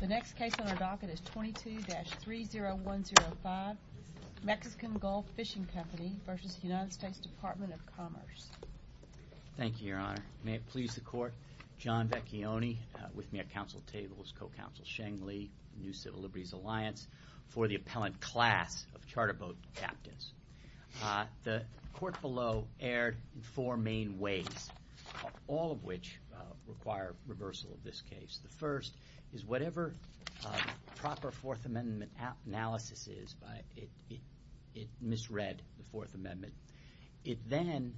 The next case on our docket is 22-30105, Mexican Gulf Fishing Company v. U.S. Dept. of Commerce. Thank you, Your Honor. May it please the Court, John Vecchione with me at Council Tables, co-counsel Sheng Li, New Civil Liberties Alliance, for the appellant class of charter boat captains. The court below erred in four main ways, all of which require reversal of this case. The first is whatever proper Fourth Amendment analysis is, it misread the Fourth Amendment. It then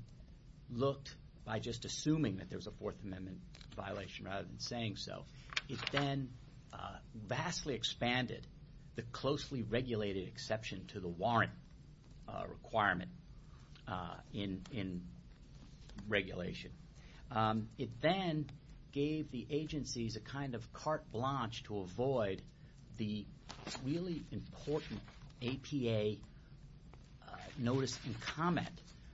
looked, by just assuming that there was a Fourth Amendment violation rather than saying so, it then vastly expanded the closely regulated exception to the warrant requirement in regulation. It then gave the agencies a kind of carte blanche to avoid the really important APA notice and comment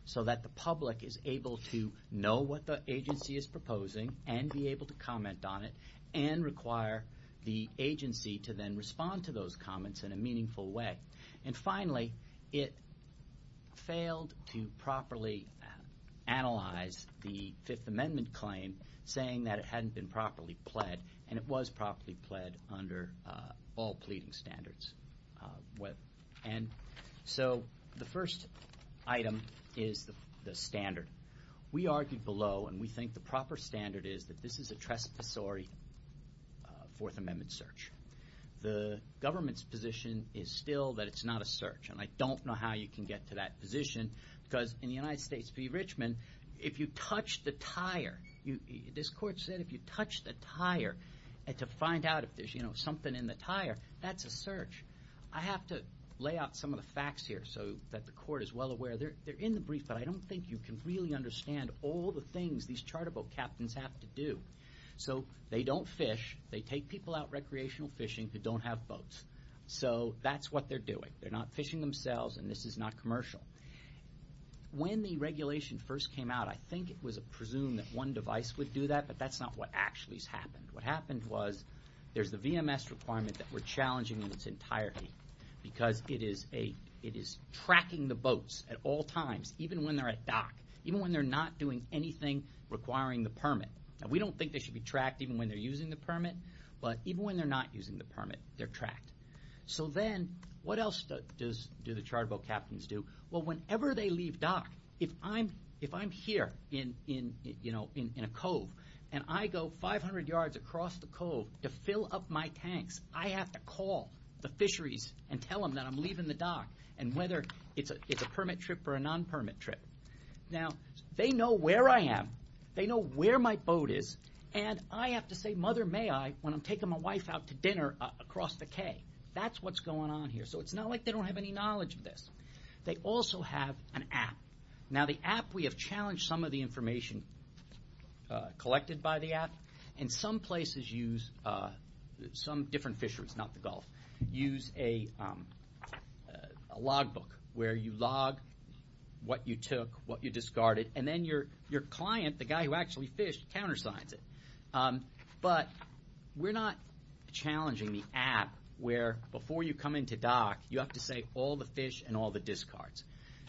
so that the public is able to know what the agency is proposing and be able to comment on it and require the agency to then respond to those comments in a meaningful way. And finally, it failed to properly analyze the Fifth Amendment claim, saying that it hadn't been properly pled, and it was properly pled under all pleading standards. And so the first item is the standard. We argued below, and we think the proper standard is that this is a trespassory Fourth Amendment search. The government's position is still that it's not a search, and I don't know how you can get to that position because in the United States v. Richmond, if you touch the tire, this Court said if you touch the tire and to find out if there's something in the tire, that's a search. I have to lay out some of the facts here so that the Court is well aware. They're in the brief, but I don't think you can really understand all the things these charter boat captains have to do. So they don't fish. They take people out recreational fishing who don't have boats. So that's what they're doing. They're not fishing themselves, and this is not commercial. When the regulation first came out, I think it was presumed that one device would do that, but that's not what actually has happened. What happened was there's the VMS requirement that we're challenging in its entirety because it is tracking the boats at all times, even when they're at dock, even when they're not doing anything requiring the permit. We don't think they should be tracked even when they're using the permit, but even when they're not using the permit, they're tracked. So then what else do the charter boat captains do? Well, whenever they leave dock, if I'm here in a cove and I go 500 yards across the cove to fill up my tanks, I have to call the fisheries and tell them that I'm leaving the dock, and whether it's a permit trip or a non-permit trip. Now, they know where I am. They know where my boat is, and I have to say, Mother, may I, when I'm taking my wife out to dinner across the cay. That's what's going on here. So it's not like they don't have any knowledge of this. They also have an app. Now, the app, we have challenged some of the information collected by the app, and some places use, some different fisheries, not the Gulf, use a log book where you log what you took, what you discarded, and then your client, the guy who actually fished, countersigns it. But we're not challenging the app where before you come into dock, you have to say all the fish and all the discards.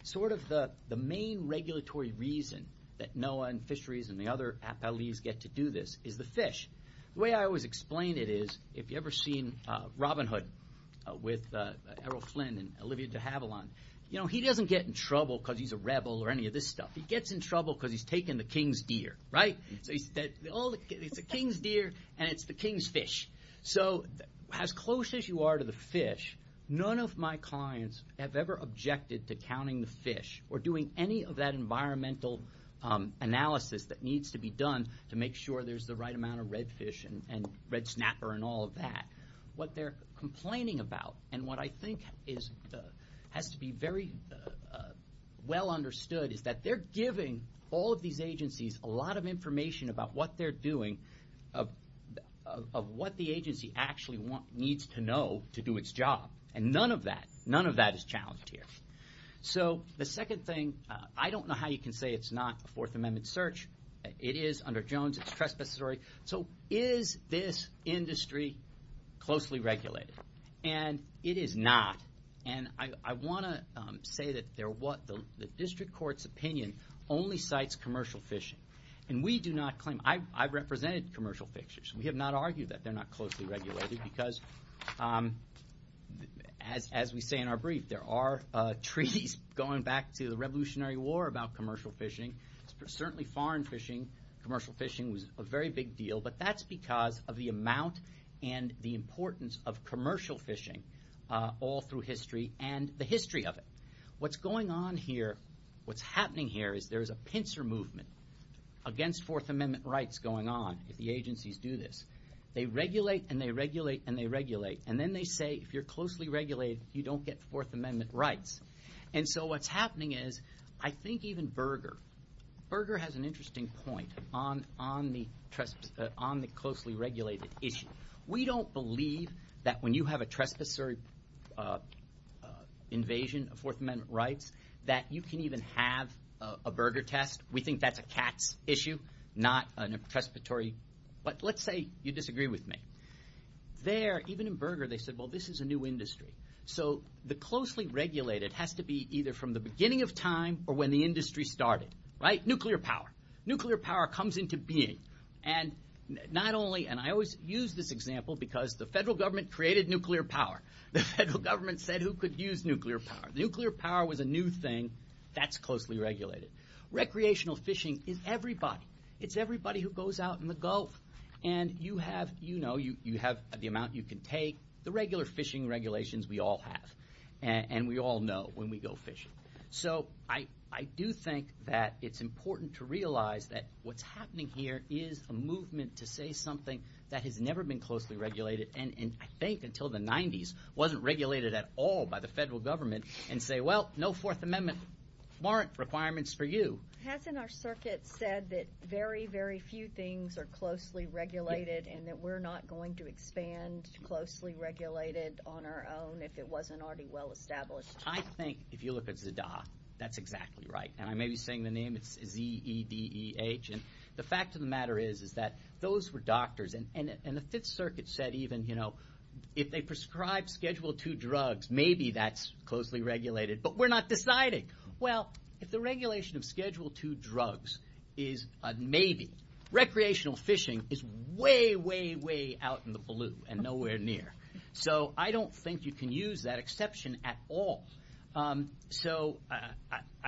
Sort of the main regulatory reason that NOAA and fisheries and the other appalities get to do this is the fish. The way I always explain it is, if you've ever seen Robin Hood with Errol Flynn and Olivia de Havilland, he doesn't get in trouble because he's a rebel or any of this stuff. He gets in trouble because he's taken the king's deer, right? It's the king's deer and it's the king's fish. So as close as you are to the fish, none of my clients have ever objected to counting the fish or doing any of that environmental analysis that needs to be done to make sure there's the right amount of redfish and red snapper and all of that. What they're complaining about and what I think has to be very well understood is that they're giving all of these agencies a lot of information about what they're doing of what the agency actually needs to know to do its job. And none of that is challenged here. So the second thing, I don't know how you can say it's not a Fourth Amendment search. It is under Jones. It's trespassory. So is this industry closely regulated? And it is not. And I want to say that the district court's opinion only cites commercial fishing. And we do not claim. I've represented commercial fishers. We have not argued that they're not closely regulated because as we say in our brief, there are treaties going back to the Revolutionary War about commercial fishing. Certainly foreign fishing, commercial fishing was a very big deal, but that's because of the amount and the importance of commercial fishing all through history and the history of it. What's going on here, what's happening here is there's a pincer movement. Against Fourth Amendment rights going on if the agencies do this. They regulate and they regulate and they regulate. And then they say if you're closely regulated, you don't get Fourth Amendment rights. And so what's happening is I think even Berger, Berger has an interesting point on the closely regulated issue. We don't believe that when you have a trespassory invasion of Fourth Amendment rights that you can even have a Berger test. We think that's a CATS issue, not a trespassory. But let's say you disagree with me. There, even in Berger, they said, well, this is a new industry. So the closely regulated has to be either from the beginning of time or when the industry started, right? Nuclear power, nuclear power comes into being. And not only, and I always use this example because the federal government created nuclear power. The federal government said who could use nuclear power? Nuclear power was a new thing that's closely regulated. Recreational fishing is everybody. It's everybody who goes out in the Gulf. And you have, you know, you have the amount you can take. The regular fishing regulations we all have. And we all know when we go fishing. So I do think that it's important to realize that what's happening here is a movement to say something that has never been closely regulated and I think until the 90s wasn't regulated at all by the federal government and say, well, no Fourth Amendment warrant requirements for you. Hasn't our circuit said that very, very few things are closely regulated and that we're not going to expand closely regulated on our own if it wasn't already well-established? I think if you look at ZDAH, that's exactly right. And I may be saying the name, it's Z-E-D-E-H. And the fact of the matter is is that those were doctors. And the Fifth Circuit said even, you know, if they prescribe Schedule II drugs, maybe that's closely regulated. But we're not deciding. Well, if the regulation of Schedule II drugs is a maybe, recreational fishing is way, way, way out in the blue and nowhere near. So I don't think you can use that exception at all. So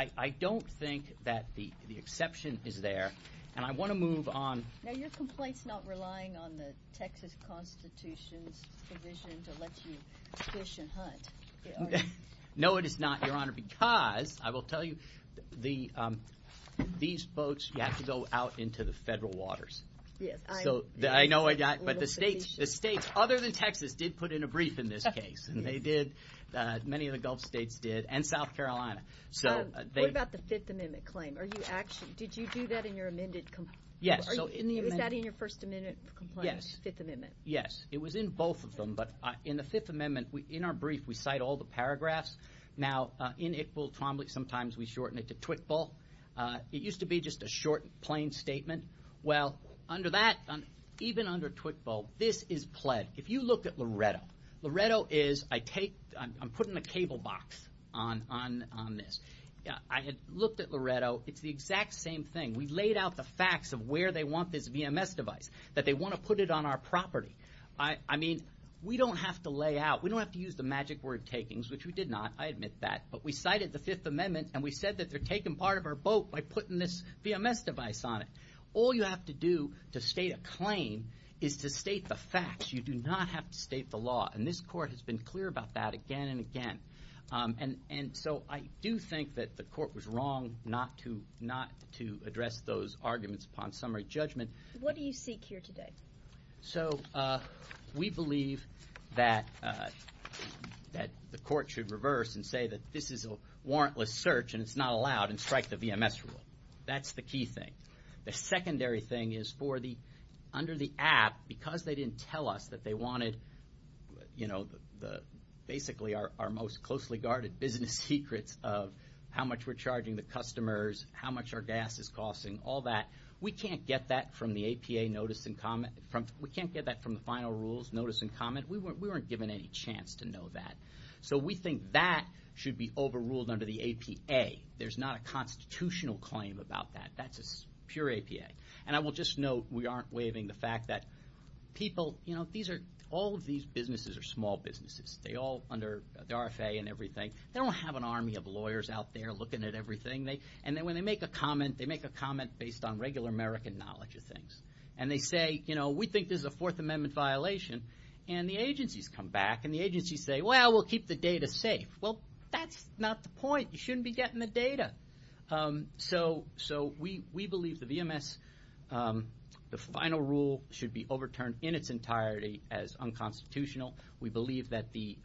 I don't think that the exception is there. And I want to move on. Now, are your complaints not relying on the Texas Constitution's provision to let you fish and hunt? No, it is not, Your Honor, because I will tell you these boats have to go out into the federal waters. So I know I got it. But the states, other than Texas, did put in a brief in this case, and they did, many of the Gulf states did, and South Carolina. What about the Fifth Amendment claim? Did you do that in your amended complaint? Yes. Was that in your First Amendment complaint? Yes. Fifth Amendment? Yes. It was in both of them. But in the Fifth Amendment, in our brief, we cite all the paragraphs. Now, in Iqbal, Trombley, sometimes we shorten it to Twickville. It used to be just a short, plain statement. Well, under that, even under Twickville, this is pled. If you look at Loretto, Loretto is I'm putting a cable box on this. I had looked at Loretto. It's the exact same thing. We laid out the facts of where they want this VMS device, that they want to put it on our property. I mean, we don't have to lay out. We don't have to use the magic word takings, which we did not. I admit that. But we cited the Fifth Amendment, and we said that they're taking part of our boat by putting this VMS device on it. All you have to do to state a claim is to state the facts. You do not have to state the law. And this Court has been clear about that again and again. And so I do think that the Court was wrong not to address those arguments upon summary judgment. What do you seek here today? So we believe that the Court should reverse and say that this is a warrantless search, and it's not allowed, and strike the VMS rule. That's the key thing. The secondary thing is under the app, because they didn't tell us that they wanted basically our most closely guarded business secrets of how much we're charging the customers, how much our gas is costing, all that, we can't get that from the APA notice and comment. We can't get that from the final rules, notice and comment. We weren't given any chance to know that. So we think that should be overruled under the APA. There's not a constitutional claim about that. That's just pure APA. And I will just note we aren't waiving the fact that people, you know, all of these businesses are small businesses. They're all under the RFA and everything. They don't have an army of lawyers out there looking at everything. And when they make a comment, they make a comment based on regular American knowledge of things. And they say, you know, we think this is a Fourth Amendment violation. And the agencies come back, and the agencies say, well, we'll keep the data safe. You shouldn't be getting the data. So we believe the VMS, the final rule should be overturned in its entirety as unconstitutional. We believe that the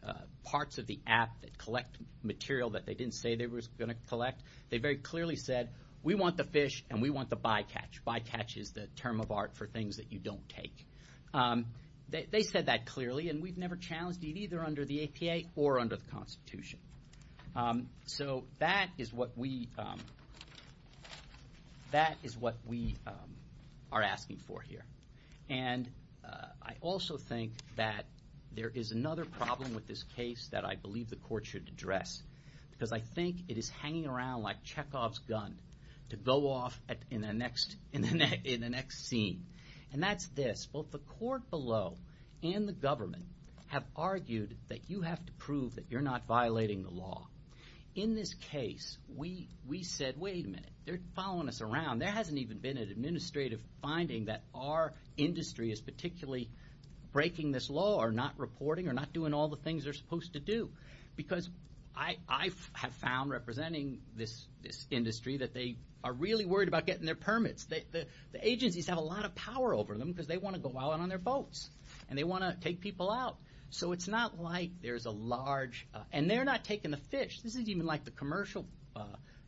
parts of the app that collect material that they didn't say they were going to collect, they very clearly said, we want the fish and we want the bycatch. Bycatch is the term of art for things that you don't take. They said that clearly, and we've never challenged it either under the APA or under the Constitution. So that is what we are asking for here. And I also think that there is another problem with this case that I believe the court should address, because I think it is hanging around like Chekhov's gun to go off in the next scene. And that's this. Both the court below and the government have argued that you have to prove that you're not violating the law. In this case, we said, wait a minute, they're following us around. There hasn't even been an administrative finding that our industry is particularly breaking this law or not reporting or not doing all the things they're supposed to do. Because I have found, representing this industry, that they are really worried about getting their permits. The agencies have a lot of power over them because they want to go out on their boats and they want to take people out. So it's not like there's a large, and they're not taking the fish. This isn't even like the commercial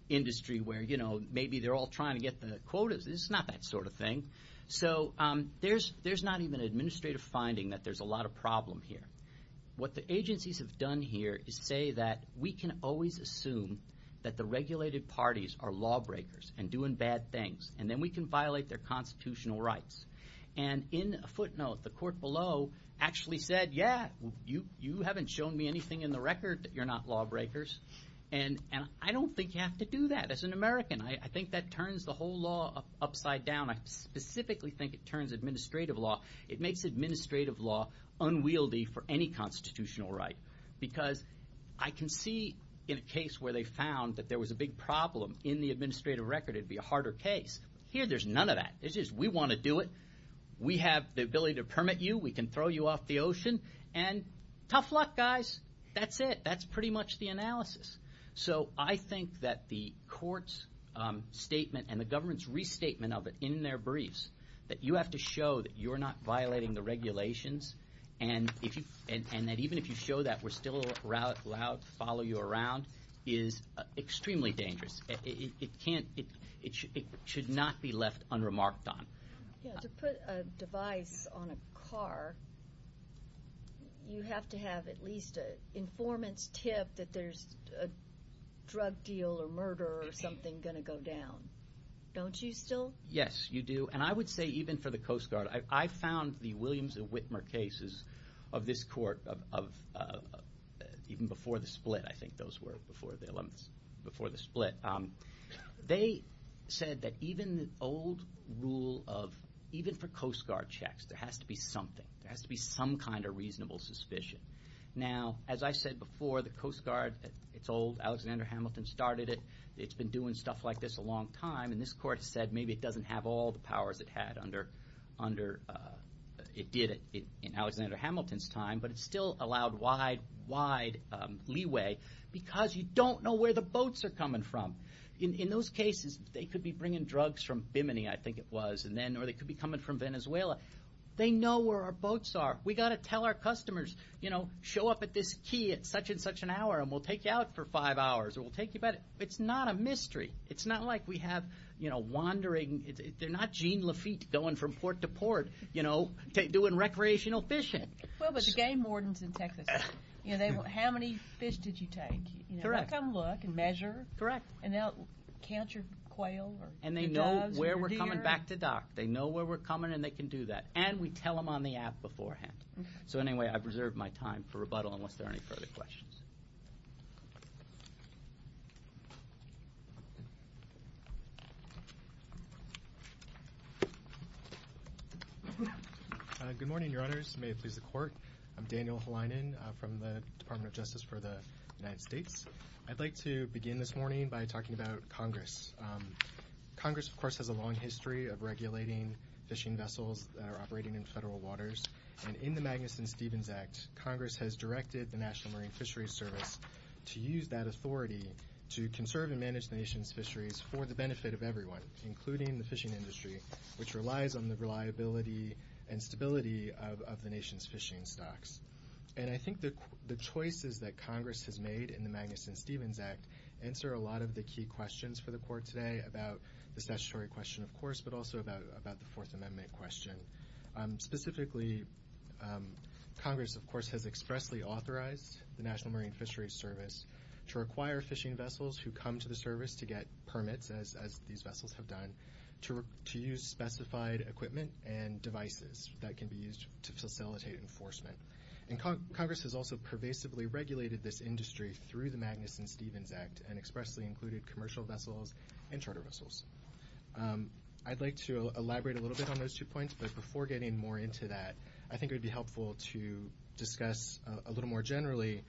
industry where maybe they're all trying to get the quotas. It's not that sort of thing. So there's not even an administrative finding that there's a lot of problem here. What the agencies have done here is say that we can always assume that the regulated parties are lawbreakers and doing bad things, and then we can violate their constitutional rights. And in a footnote, the court below actually said, yeah, you haven't shown me anything in the record that you're not lawbreakers. And I don't think you have to do that. As an American, I think that turns the whole law upside down. I specifically think it turns administrative law. It makes administrative law unwieldy for any constitutional right. Because I can see in a case where they found that there was a big problem in the administrative record, it would be a harder case. Here there's none of that. It's just we want to do it. We have the ability to permit you. We can throw you off the ocean. And tough luck, guys. That's it. That's pretty much the analysis. So I think that the court's statement and the government's restatement of it in their briefs, that you have to show that you're not violating the regulations, and that even if you show that, we're still allowed to follow you around, is extremely dangerous. It should not be left unremarked on. To put a device on a car, you have to have at least an informant's tip that there's a drug deal or murder or something going to go down. Don't you still? Yes, you do. And I would say even for the Coast Guard. I found the Williams and Whitmer cases of this court even before the split. I think those were before the split. They said that even the old rule of even for Coast Guard checks, there has to be something. There has to be some kind of reasonable suspicion. Now, as I said before, the Coast Guard, it's old. Alexander Hamilton started it. It's been doing stuff like this a long time. And this court said maybe it doesn't have all the powers it did in Alexander Hamilton's time, but it still allowed wide, wide leeway because you don't know where the boats are coming from. In those cases, they could be bringing drugs from Bimini, I think it was, or they could be coming from Venezuela. They know where our boats are. We've got to tell our customers, you know, show up at this key at such and such an hour, and we'll take you out for five hours, or we'll take you back. It's not a mystery. It's not like we have, you know, wandering. They're not Jean Lafitte going from port to port, you know, doing recreational fishing. Well, but the game wardens in Texas, you know, how many fish did you take? Correct. They'll come look and measure. Correct. And they'll count your quail or your doves or your deer. And they know where we're coming back to dock. They know where we're coming, and they can do that. And we tell them on the app beforehand. So, anyway, I've reserved my time for rebuttal unless there are any further questions. Good morning, Your Honors. May it please the Court. I'm Daniel Helinen from the Department of Justice for the United States. I'd like to begin this morning by talking about Congress. Congress, of course, has a long history of regulating fishing vessels that are operating in federal waters. And in the Magnuson-Stevens Act, Congress has directed the National Marine Fisheries Service to use that authority to conserve and manage the nation's fisheries for the benefit of everyone, including the fishing industry, which relies on the reliability and stability of the nation's fishing stocks. And I think the choices that Congress has made in the Magnuson-Stevens Act answer a lot of the key questions for the Court today about the statutory question, of course, but also about the Fourth Amendment question. Specifically, Congress, of course, has expressly authorized the National Marine Fisheries Service to require fishing vessels who come to the service to get permits, as these vessels have done, to use specified equipment and devices that can be used to facilitate enforcement. And Congress has also pervasively regulated this industry through the Magnuson-Stevens Act and expressly included commercial vessels and charter vessels. I'd like to elaborate a little bit on those two points, but before getting more into that, I think it would be helpful to discuss a little more generally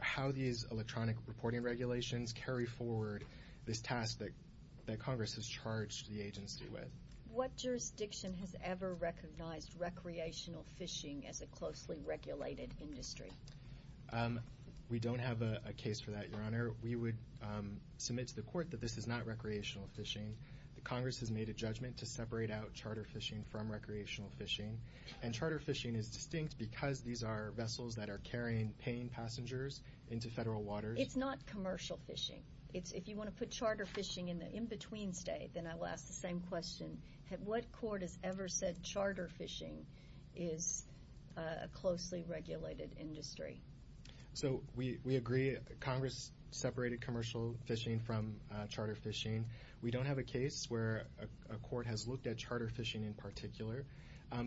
how these electronic reporting regulations carry forward this task that Congress has charged the agency with. What jurisdiction has ever recognized recreational fishing as a closely regulated industry? We don't have a case for that, Your Honor. We would submit to the Court that this is not recreational fishing. Congress has made a judgment to separate out charter fishing from recreational fishing, and charter fishing is distinct because these are vessels that are carrying paying passengers into federal waters. It's not commercial fishing. If you want to put charter fishing in the in-between state, then I will ask the same question. What Court has ever said charter fishing is a closely regulated industry? We agree Congress separated commercial fishing from charter fishing. We don't have a case where a court has looked at charter fishing in particular,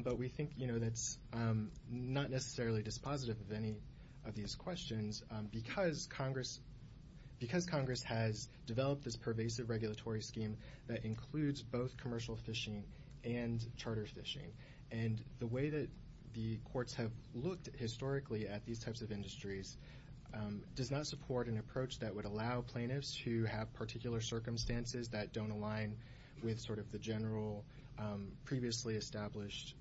but we think that's not necessarily dispositive of any of these questions because Congress has developed this pervasive regulatory scheme that includes both commercial fishing and charter fishing. And the way that the courts have looked historically at these types of industries does not support an approach that would allow plaintiffs who have particular circumstances that don't align with sort of the general previously established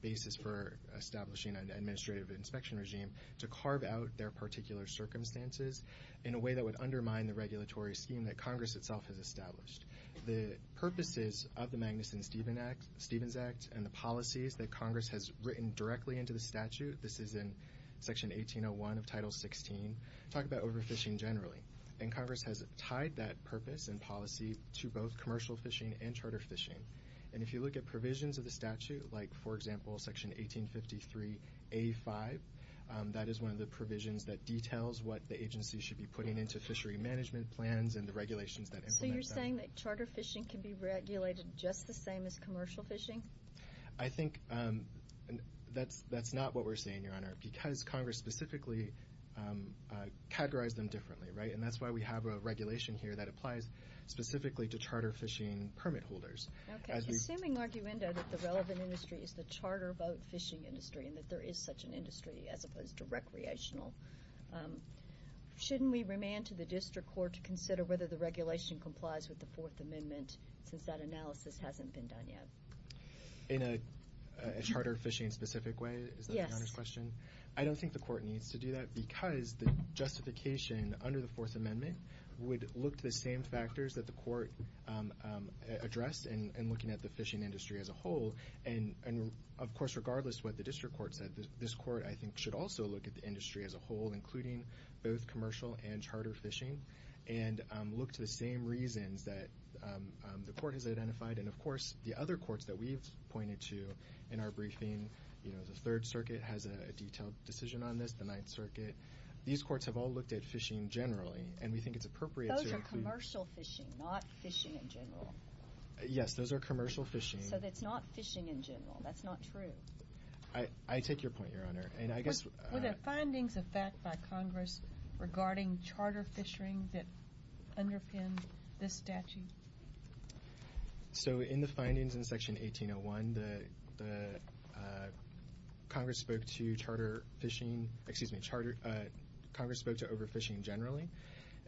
basis for establishing an administrative inspection regime to carve out their particular circumstances in a way that would undermine the regulatory scheme that Congress itself has established. The purposes of the Magnuson-Stevens Act and the policies that Congress has written directly into the statute, this is in Section 1801 of Title 16, talk about overfishing generally. And Congress has tied that purpose and policy to both commercial fishing and charter fishing. And if you look at provisions of the statute, like, for example, Section 1853A5, that is one of the provisions that details what the agency should be putting into fishery management plans and the regulations that implement that. So you're saying that charter fishing can be regulated just the same as commercial fishing? I think that's not what we're saying, Your Honor, because Congress specifically categorized them differently, right? And that's why we have a regulation here that applies specifically to charter fishing permit holders. Okay. Assuming arguendo that the relevant industry is the charter boat fishing industry and that there is such an industry as opposed to recreational, shouldn't we remand to the district court to consider whether the regulation complies with the Fourth Amendment since that analysis hasn't been done yet? In a charter fishing-specific way? Yes. Is that Your Honor's question? I don't think the court needs to do that because the justification under the Fourth Amendment would look to the same factors that the court addressed in looking at the fishing industry as a whole. And, of course, regardless of what the district court said, this court, I think, should also look at the industry as a whole, including both commercial and charter fishing, and look to the same reasons that the court has identified. And, of course, the other courts that we've pointed to in our briefing, the Third Circuit has a detailed decision on this, the Ninth Circuit. These courts have all looked at fishing generally, and we think it's appropriate to include Those are commercial fishing, not fishing in general. Yes, those are commercial fishing. So it's not fishing in general. That's not true. I take your point, Your Honor. And I guess Were there findings of fact by Congress regarding charter fishing that underpinned this statute? So in the findings in Section 1801, the Congress spoke to charter fishing, excuse me, Congress spoke to overfishing generally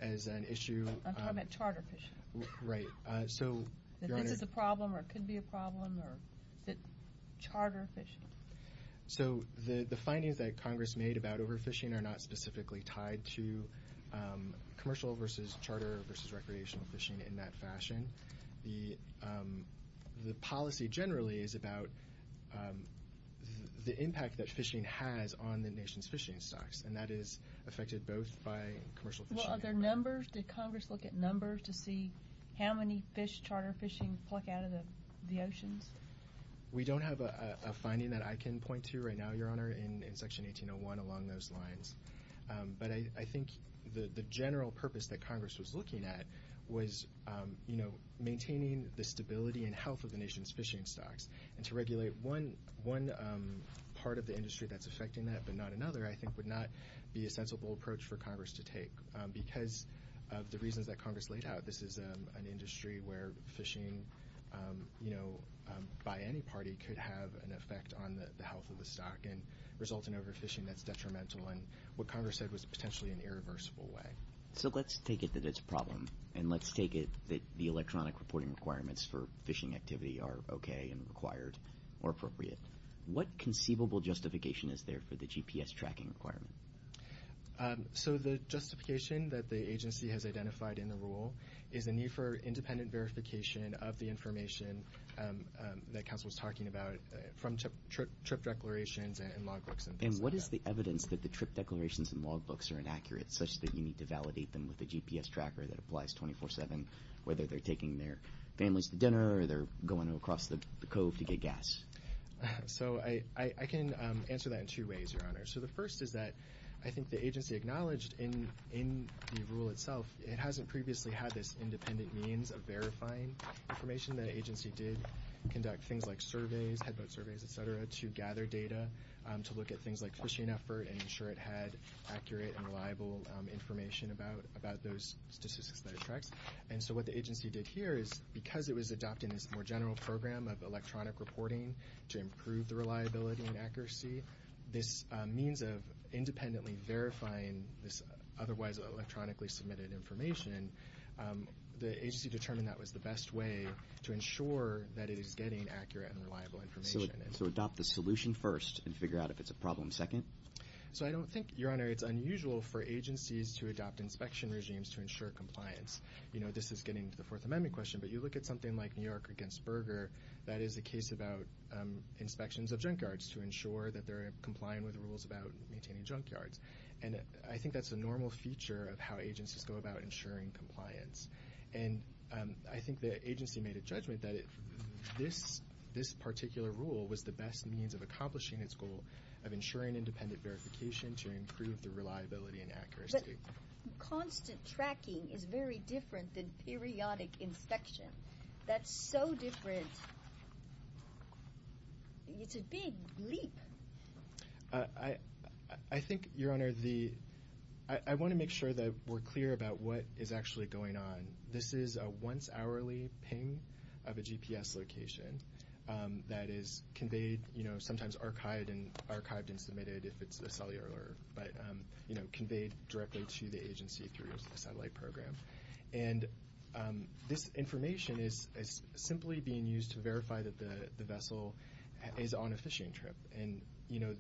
as an issue. I'm talking about charter fishing. Right. This is a problem or could be a problem, or is it charter fishing? So the findings that Congress made about overfishing are not specifically tied to commercial versus charter versus recreational fishing in that fashion. The policy generally is about the impact that fishing has on the nation's fishing stocks, and that is affected both by commercial fishing Well, are there numbers? Did Congress look at numbers to see how many fish charter fishing pluck out of the oceans? We don't have a finding that I can point to right now, Your Honor, in Section 1801 along those lines. But I think the general purpose that Congress was looking at was, you know, maintaining the stability and health of the nation's fishing stocks and to regulate one part of the industry that's affecting that, but not another, I think, would not be a sensible approach for Congress to take. Because of the reasons that Congress laid out, this is an industry where fishing, you know, by any party could have an effect on the health of the stock and resulting overfishing that's detrimental and what Congress said was potentially an irreversible way. So let's take it that it's a problem, and let's take it that the electronic reporting requirements for fishing activity are okay and required or appropriate. What conceivable justification is there for the GPS tracking requirement? So the justification that the agency has identified in the rule is a need for independent verification of the information that counsel was talking about from trip declarations and log books and things like that. And what is the evidence that the trip declarations and log books are inaccurate, such that you need to validate them with a GPS tracker that applies 24-7, whether they're taking their families to dinner or they're going across the cove to get gas? So I can answer that in two ways, Your Honor. So the first is that I think the agency acknowledged in the rule itself, it hasn't previously had this independent means of verifying information. The agency did conduct things like surveys, headboat surveys, et cetera, to gather data, to look at things like fishing effort and ensure it had accurate and reliable information about those statistics that it tracks. And so what the agency did here is, because it was adopting this more general program of electronic reporting to improve the reliability and accuracy, this means of independently verifying this otherwise electronically submitted information, the agency determined that was the best way to ensure that it is getting accurate and reliable information. So adopt the solution first and figure out if it's a problem second? So I don't think, Your Honor, it's unusual for agencies to adopt inspection regimes to ensure compliance. You know, this is getting to the Fourth Amendment question, but you look at something like New York against Berger, that is a case about inspections of junkyards to ensure that they're complying with rules about maintaining junkyards. And I think that's a normal feature of how agencies go about ensuring compliance. And I think the agency made a judgment that this particular rule was the best means of accomplishing its goal of ensuring independent verification to improve the reliability and accuracy. But constant tracking is very different than periodic inspection. That's so different. It's a big leap. I think, Your Honor, I want to make sure that we're clear about what is actually going on. This is a once hourly ping of a GPS location that is conveyed, you know, sometimes archived and submitted if it's a cellular alert, but, you know, conveyed directly to the agency through a satellite program. And this information is simply being used to verify that the vessel is on a fishing trip. And, you know,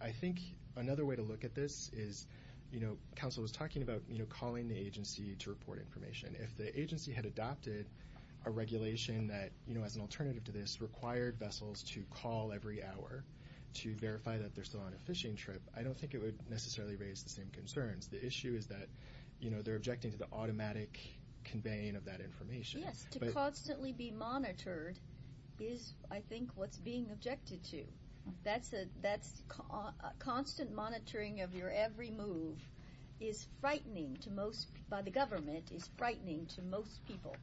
I think another way to look at this is, you know, counsel was talking about calling the agency to report information. If the agency had adopted a regulation that, you know, as an alternative to this, required vessels to call every hour to verify that they're still on a fishing trip, I don't think it would necessarily raise the same concerns. The issue is that, you know, they're objecting to the automatic conveying of that information. Yes, to constantly be monitored is, I think, what's being objected to. That's constant monitoring of your every move is frightening to most by the government, is frightening to most people.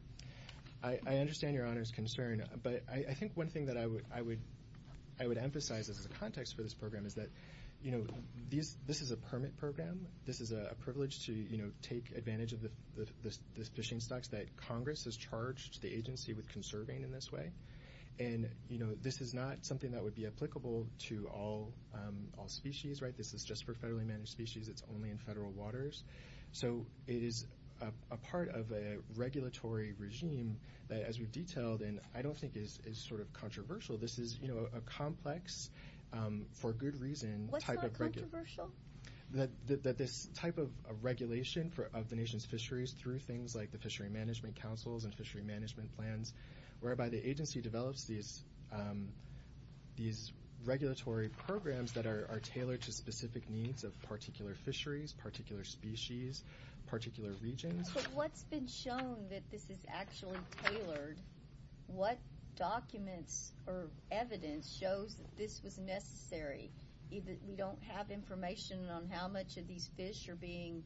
I understand Your Honor's concern, but I think one thing that I would emphasize as a context for this program is that, you know, this is a permit program. This is a privilege to, you know, take advantage of the fishing stocks that Congress has charged the agency with conserving in this way. And, you know, this is not something that would be applicable to all species, right? This is just for federally managed species. It's only in federal waters. So it is a part of a regulatory regime that, as we've detailed, and I don't think is sort of controversial. This is, you know, a complex, for good reason, type of regulation. What's not controversial? That this type of regulation of the nation's fisheries through things like the Fishery Management Councils and Fishery Management Plans, whereby the agency develops these regulatory programs that are tailored to specific needs of particular fisheries, particular species, particular regions. But what's been shown that this is actually tailored? What documents or evidence shows that this was necessary? We don't have information on how much of these fish are being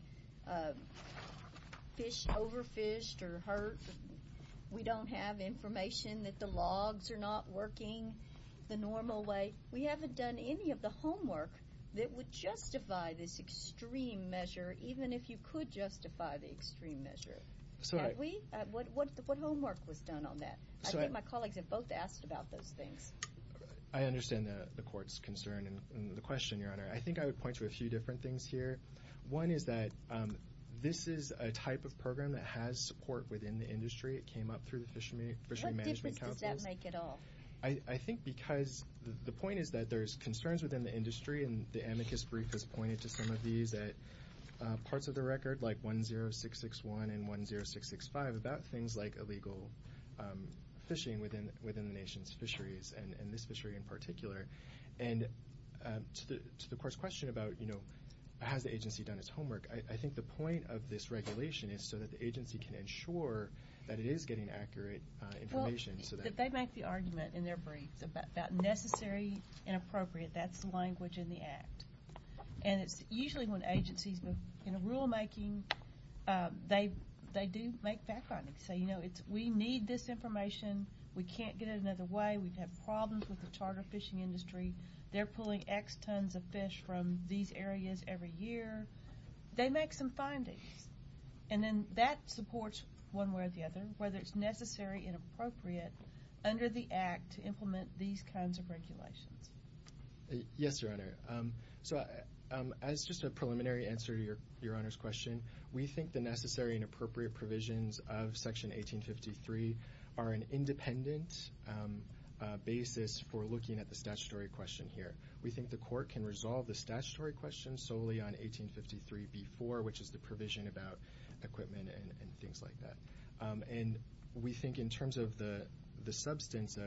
fish overfished or hurt. We don't have information that the logs are not working the normal way. We haven't done any of the homework that would justify this extreme measure, even if you could justify the extreme measure. Have we? What homework was done on that? I think my colleagues have both asked about those things. I understand the Court's concern and the question, Your Honor. I think I would point to a few different things here. One is that this is a type of program that has support within the industry. It came up through the Fishery Management Councils. What difference does that make at all? I think because the point is that there's concerns within the industry, and the amicus brief has pointed to some of these at parts of the record, like 10661 and 10665, about things like illegal fishing within the nation's fisheries, and this fishery in particular. And to the Court's question about has the agency done its homework, I think the point of this regulation is so that the agency can ensure that it is getting accurate information. They make the argument in their briefs about necessary and appropriate. That's the language in the Act. And it's usually when agencies move into rulemaking, they do make background. They say, you know, we need this information. We can't get it another way. We have problems with the charter fishing industry. They're pulling X tons of fish from these areas every year. They make some findings, and then that supports one way or the other, whether it's necessary and appropriate under the Act to implement these kinds of regulations. Yes, Your Honor. So as just a preliminary answer to Your Honor's question, we think the necessary and appropriate provisions of Section 1853 are an independent basis for looking at the statutory question here. We think the Court can resolve the statutory question solely on 1853b-4, which is the provision about equipment and things like that. And we think in terms of the substance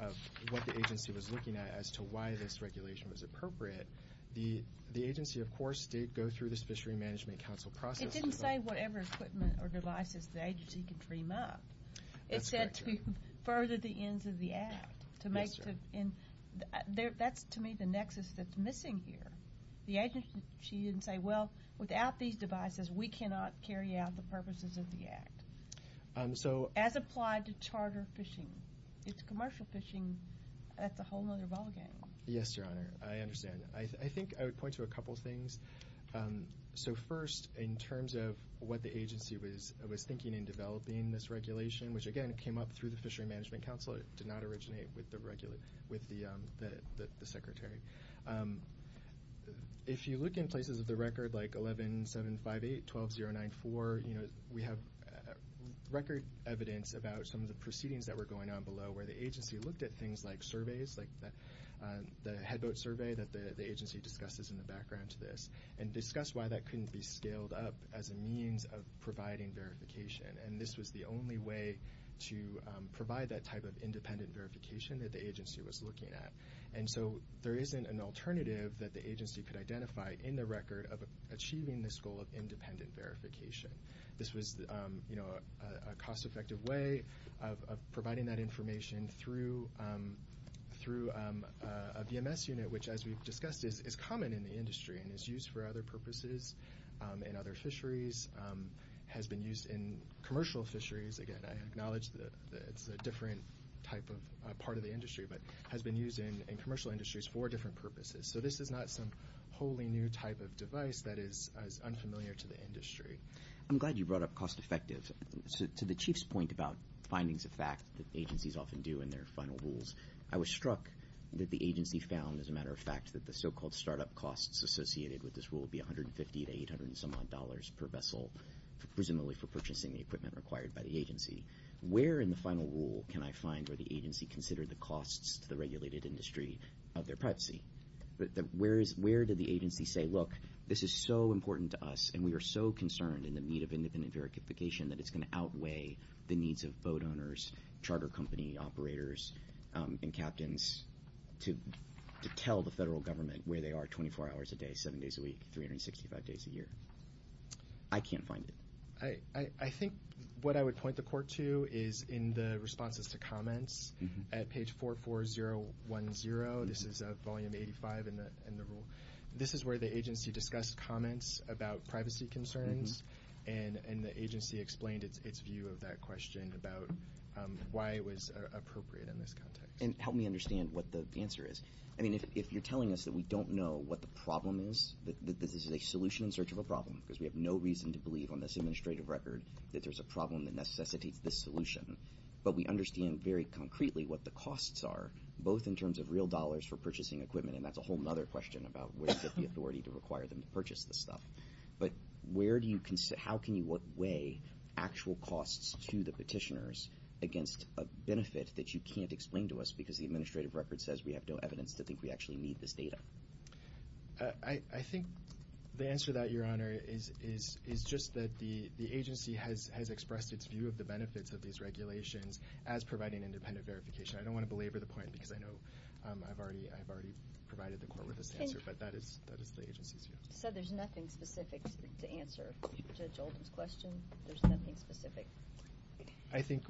of what the agency was looking at as to why this regulation was appropriate, the agency, of course, did go through the Fishery Management Council process. It didn't say whatever equipment or devices the agency could dream up. That's correct, Your Honor. It said to further the ends of the Act. Yes, Your Honor. That's to me the nexus that's missing here. The agency didn't say, well, without these devices, we cannot carry out the purposes of the Act. So as applied to charter fishing, it's commercial fishing. That's a whole other ballgame. Yes, Your Honor. I understand. I think I would point to a couple things. So first, in terms of what the agency was thinking in developing this regulation, which, again, came up through the Fishery Management Council. It did not originate with the Secretary. If you look in places of the record, like 11758, 12094, we have record evidence about some of the proceedings that were going on below where the agency looked at things like surveys, like the headboat survey that the agency discusses in the background to this, and discussed why that couldn't be scaled up as a means of providing verification. And this was the only way to provide that type of independent verification that the agency was looking at. And so there isn't an alternative that the agency could identify in the record of achieving this goal of independent verification. This was a cost-effective way of providing that information through a VMS unit, which, as we've discussed, is common in the industry and is used for other purposes in other fisheries, has been used in commercial fisheries. Again, I acknowledge that it's a different type of part of the industry, but has been used in commercial industries for different purposes. So this is not some wholly new type of device that is unfamiliar to the industry. I'm glad you brought up cost-effective. To the Chief's point about findings of fact that agencies often do in their final rules, that the so-called startup costs associated with this rule would be $150 to $800 and some odd dollars per vessel, presumably for purchasing the equipment required by the agency. Where in the final rule can I find where the agency considered the costs to the regulated industry of their privacy? Where did the agency say, look, this is so important to us, and we are so concerned in the need of independent verification that it's going to outweigh the needs of boat owners, charter company operators, and captains to tell the federal government where they are 24 hours a day, seven days a week, 365 days a year? I can't find it. I think what I would point the court to is in the responses to comments at page 44010. This is volume 85 in the rule. This is where the agency discussed comments about privacy concerns, and the agency explained its view of that question about why it was appropriate in this context. And help me understand what the answer is. I mean, if you're telling us that we don't know what the problem is, that this is a solution in search of a problem, because we have no reason to believe on this administrative record that there's a problem that necessitates this solution, but we understand very concretely what the costs are, both in terms of real dollars for purchasing equipment, and that's a whole other question about where is the authority to require them to purchase this stuff. But how can you weigh actual costs to the petitioners against a benefit that you can't explain to us because the administrative record says we have no evidence to think we actually need this data? I think the answer to that, Your Honor, is just that the agency has expressed its view of the benefits of these regulations as providing independent verification. I don't want to belabor the point because I know I've already provided the court with this answer, but that is the agency's view. So there's nothing specific to answer Judge Oldham's question? There's nothing specific? I think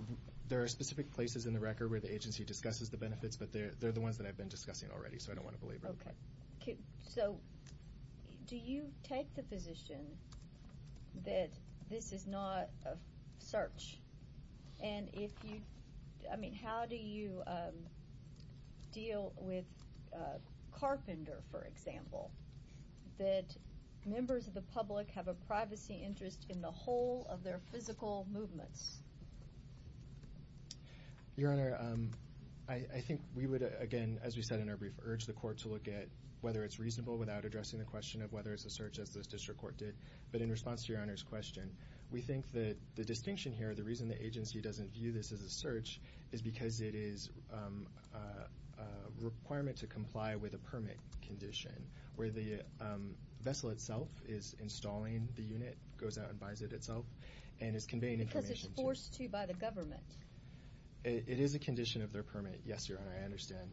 there are specific places in the record where the agency discusses the benefits, but they're the ones that I've been discussing already, so I don't want to belabor the point. Okay. So do you take the position that this is not a search? And if you – I mean, how do you deal with Carpenter, for example, that members of the public have a privacy interest in the whole of their physical movements? Your Honor, I think we would, again, as we said in our brief, urge the court to look at whether it's reasonable without addressing the question of whether it's a search, as the district court did. But in response to Your Honor's question, we think that the distinction here, the reason the agency doesn't view this as a search, is because it is a requirement to comply with a permit condition where the vessel itself is installing the unit, goes out and buys it itself, and is conveying information to you. Because it's forced to by the government. It is a condition of their permit, yes, Your Honor. I understand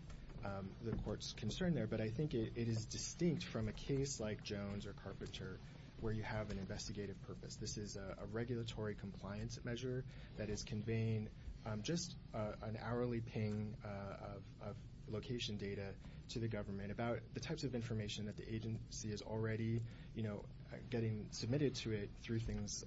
the court's concern there, but I think it is distinct from a case like Jones or Carpenter where you have an investigative purpose. This is a regulatory compliance measure that is conveying just an hourly ping of location data to the government about the types of information that the agency is already getting submitted to it through things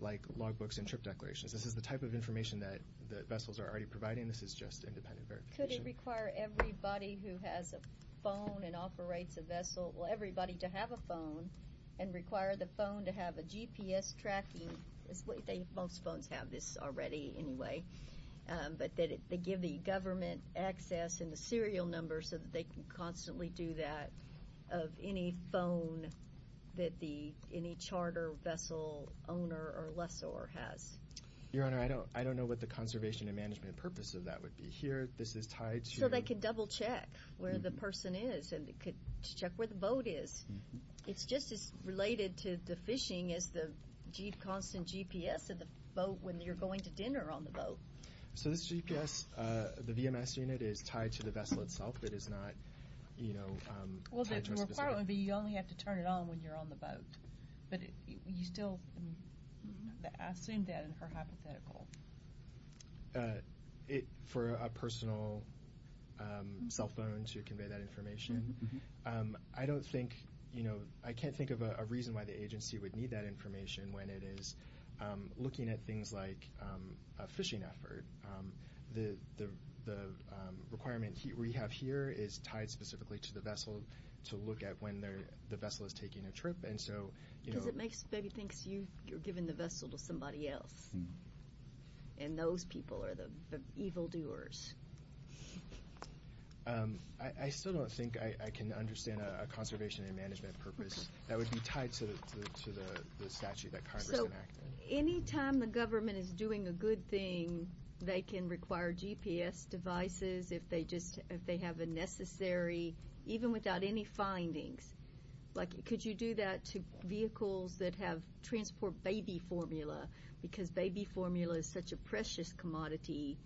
like logbooks and trip declarations. This is the type of information that the vessels are already providing. This is just independent verification. Could it require everybody who has a phone and operates a vessel, well, everybody to have a phone, and require the phone to have a GPS tracking? Most phones have this already anyway. But they give the government access and the serial number so that they can constantly do that of any phone that any charter vessel owner or lessor has. Your Honor, I don't know what the conservation and management purpose of that would be. So they can double-check where the person is and check where the boat is. It's just as related to the fishing as the constant GPS of the boat when you're going to dinner on the boat. So this GPS, the VMS unit, is tied to the vessel itself. It is not tied to a specific— Well, the requirement would be you only have to turn it on when you're on the boat. But you still—I assume that in her hypothetical. For a personal cell phone to convey that information, I don't think— I can't think of a reason why the agency would need that information when it is looking at things like a fishing effort. The requirement we have here is tied specifically to the vessel to look at when the vessel is taking a trip. Because it makes—maybe thinks you're giving the vessel to somebody else. And those people are the evildoers. I still don't think I can understand a conservation and management purpose that would be tied to the statute that Congress enacted. So any time the government is doing a good thing, they can require GPS devices if they have a necessary— even without any findings. Like, could you do that to vehicles that have transport baby formula? Because baby formula is such a precious commodity.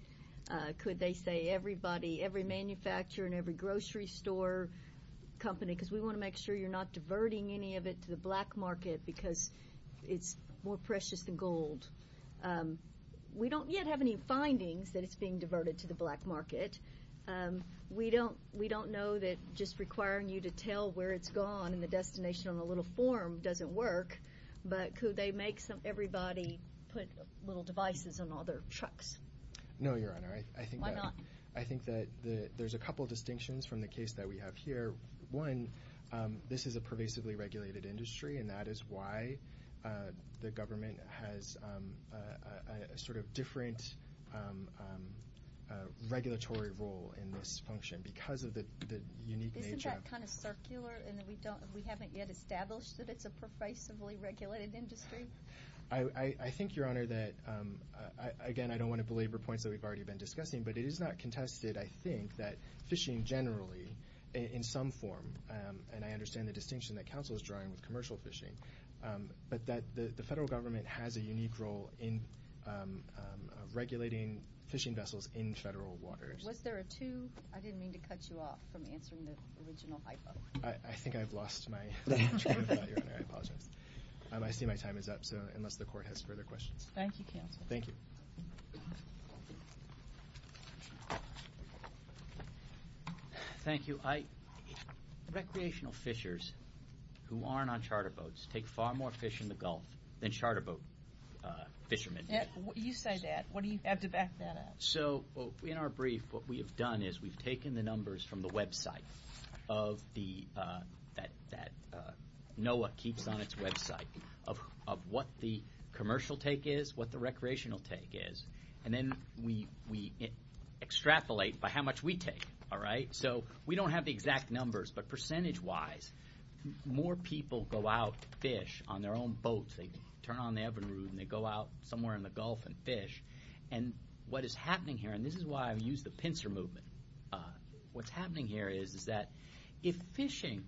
Could they say everybody, every manufacturer and every grocery store company? Because we want to make sure you're not diverting any of it to the black market because it's more precious than gold. We don't yet have any findings that it's being diverted to the black market. We don't know that just requiring you to tell where it's gone and the destination on a little form doesn't work. But could they make everybody put little devices on all their trucks? No, Your Honor. Why not? I think that there's a couple of distinctions from the case that we have here. One, this is a pervasively regulated industry, and that is why the government has a sort of different regulatory role in this function because of the unique nature. Isn't that kind of circular in that we haven't yet established that it's a pervasively regulated industry? I think, Your Honor, that, again, I don't want to belabor points that we've already been discussing, but it is not contested, I think, that fishing generally, in some form, and I understand the distinction that counsel is drawing with commercial fishing, but that the federal government has a unique role in regulating fishing vessels in federal waters. Was there a two? I didn't mean to cut you off from answering the original hypo. I think I've lost my train of thought, Your Honor. I apologize. I see my time is up, so unless the court has further questions. Thank you, counsel. Thank you. Thank you. Recreational fishers who aren't on charter boats take far more fish in the Gulf than charter boat fishermen do. You say that. What do you have to back that up? So in our brief, what we have done is we've taken the numbers from the website that NOAA keeps on its website of what the commercial take is, what the recreational take is, and then we extrapolate by how much we take, all right? So we don't have the exact numbers, but percentage-wise, more people go out to fish on their own boats. They turn on the oven roof, and they go out somewhere in the Gulf and fish. And what is happening here, and this is why I've used the pincer movement, what's happening here is that if fishing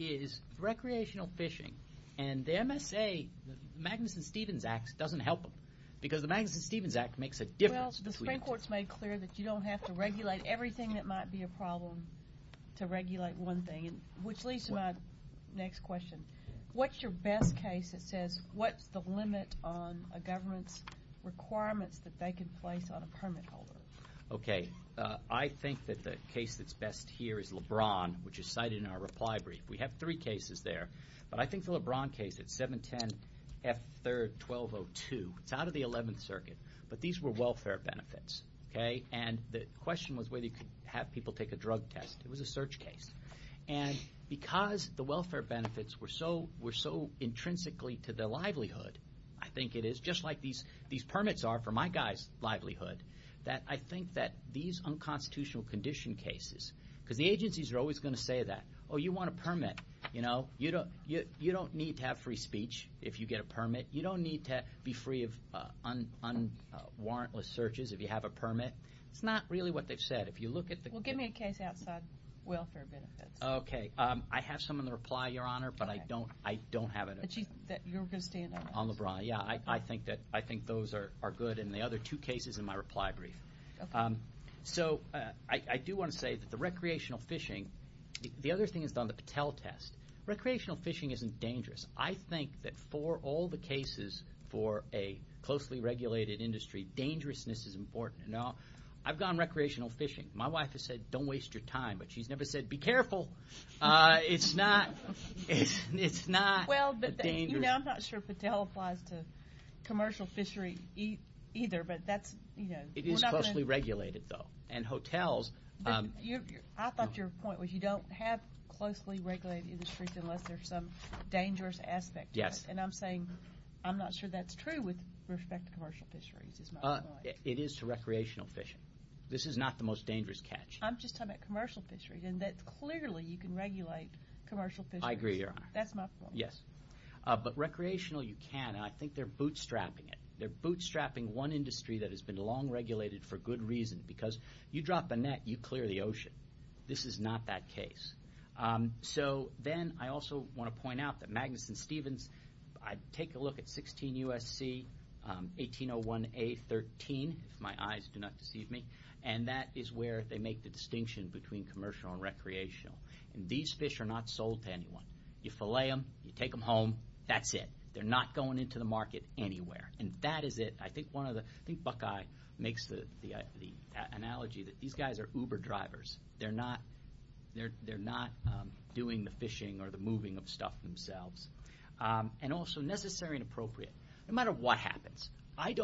is recreational fishing, and the MSA, the Magnuson-Stevens Act, doesn't help them because the Magnuson-Stevens Act makes a difference. Well, the Supreme Court's made clear that you don't have to regulate everything that might be a problem to regulate one thing, which leads to my next question. What's your best case that says what's the limit on a government's requirements that they can place on a permit holder? Okay. I think that the case that's best here is LeBron, which is cited in our reply brief. We have three cases there, but I think the LeBron case at 710 F. 3rd 1202, it's out of the 11th Circuit, but these were welfare benefits, okay? And the question was whether you could have people take a drug test. It was a search case. And because the welfare benefits were so intrinsically to their livelihood, I think it is, just like these permits are for my guy's livelihood, that I think that these unconstitutional condition cases, because the agencies are always going to say that, oh, you want a permit, you know? You don't need to be free of unwarrantless searches if you have a permit. It's not really what they've said. Well, give me a case outside welfare benefits. Okay. I have some in the reply, Your Honor, but I don't have it. That you're going to stand on? On LeBron, yeah. I think those are good, and the other two cases in my reply brief. So I do want to say that the recreational fishing, the other thing is on the Patel test. Recreational fishing isn't dangerous. I think that for all the cases for a closely regulated industry, dangerousness is important. Now, I've gone recreational fishing. My wife has said, don't waste your time, but she's never said, be careful. It's not dangerous. Well, but, you know, I'm not sure Patel applies to commercial fishery either, but that's, you know. It is closely regulated, though, and hotels. I thought your point was you don't have closely regulated industries unless there's some dangerous aspect to it. Yes. And I'm saying I'm not sure that's true with respect to commercial fisheries is my point. It is to recreational fishing. This is not the most dangerous catch. I'm just talking about commercial fisheries, and that clearly you can regulate commercial fisheries. I agree, Your Honor. That's my point. Yes. But recreational you can, and I think they're bootstrapping it. They're bootstrapping one industry that has been long regulated for good reason, because you drop a net, you clear the ocean. This is not that case. So then I also want to point out that Magnuson Stevens, I take a look at 16 U.S.C. 1801A.13, if my eyes do not deceive me, and that is where they make the distinction between commercial and recreational, and these fish are not sold to anyone. You fillet them, you take them home, that's it. They're not going into the market anywhere, and that is it. I think Buckeye makes the analogy that these guys are Uber drivers. They're not doing the fishing or the moving of stuff themselves. And also necessary and appropriate. No matter what happens, I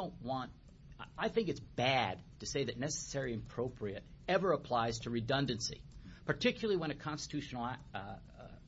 think it's bad to say that necessary and appropriate ever applies to redundancy, particularly when a constitutional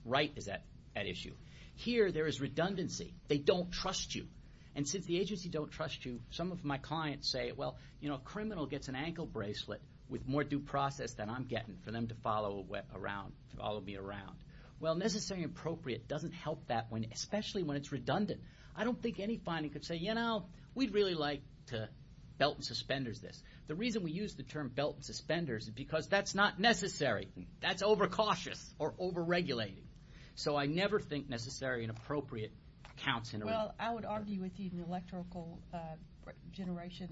right is at issue. Here there is redundancy. They don't trust you. And since the agency don't trust you, some of my clients say, well, you know, a criminal gets an ankle bracelet with more due process than I'm getting for them to follow around, follow me around. Well, necessary and appropriate doesn't help that, especially when it's redundant. I don't think any finding could say, you know, we'd really like to belt and suspenders this. The reason we use the term belt and suspenders is because that's not necessary. That's overcautious or overregulating. So I never think necessary and appropriate counts. Well, I would argue with you on electrical generation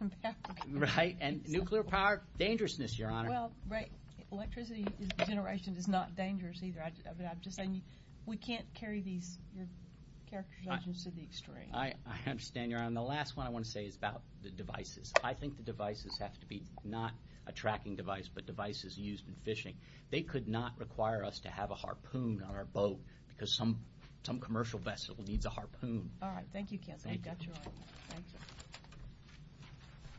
and power. Right. And nuclear power, dangerousness, Your Honor. Well, right. Electricity generation is not dangerous either. I'm just saying we can't carry these characterizations to the extreme. I understand, Your Honor. And the last one I want to say is about the devices. I think the devices have to be not a tracking device but devices used in fishing. They could not require us to have a harpoon on our boat because some commercial vessel needs a harpoon. All right. Thank you, counsel. We've got your item. Thank you.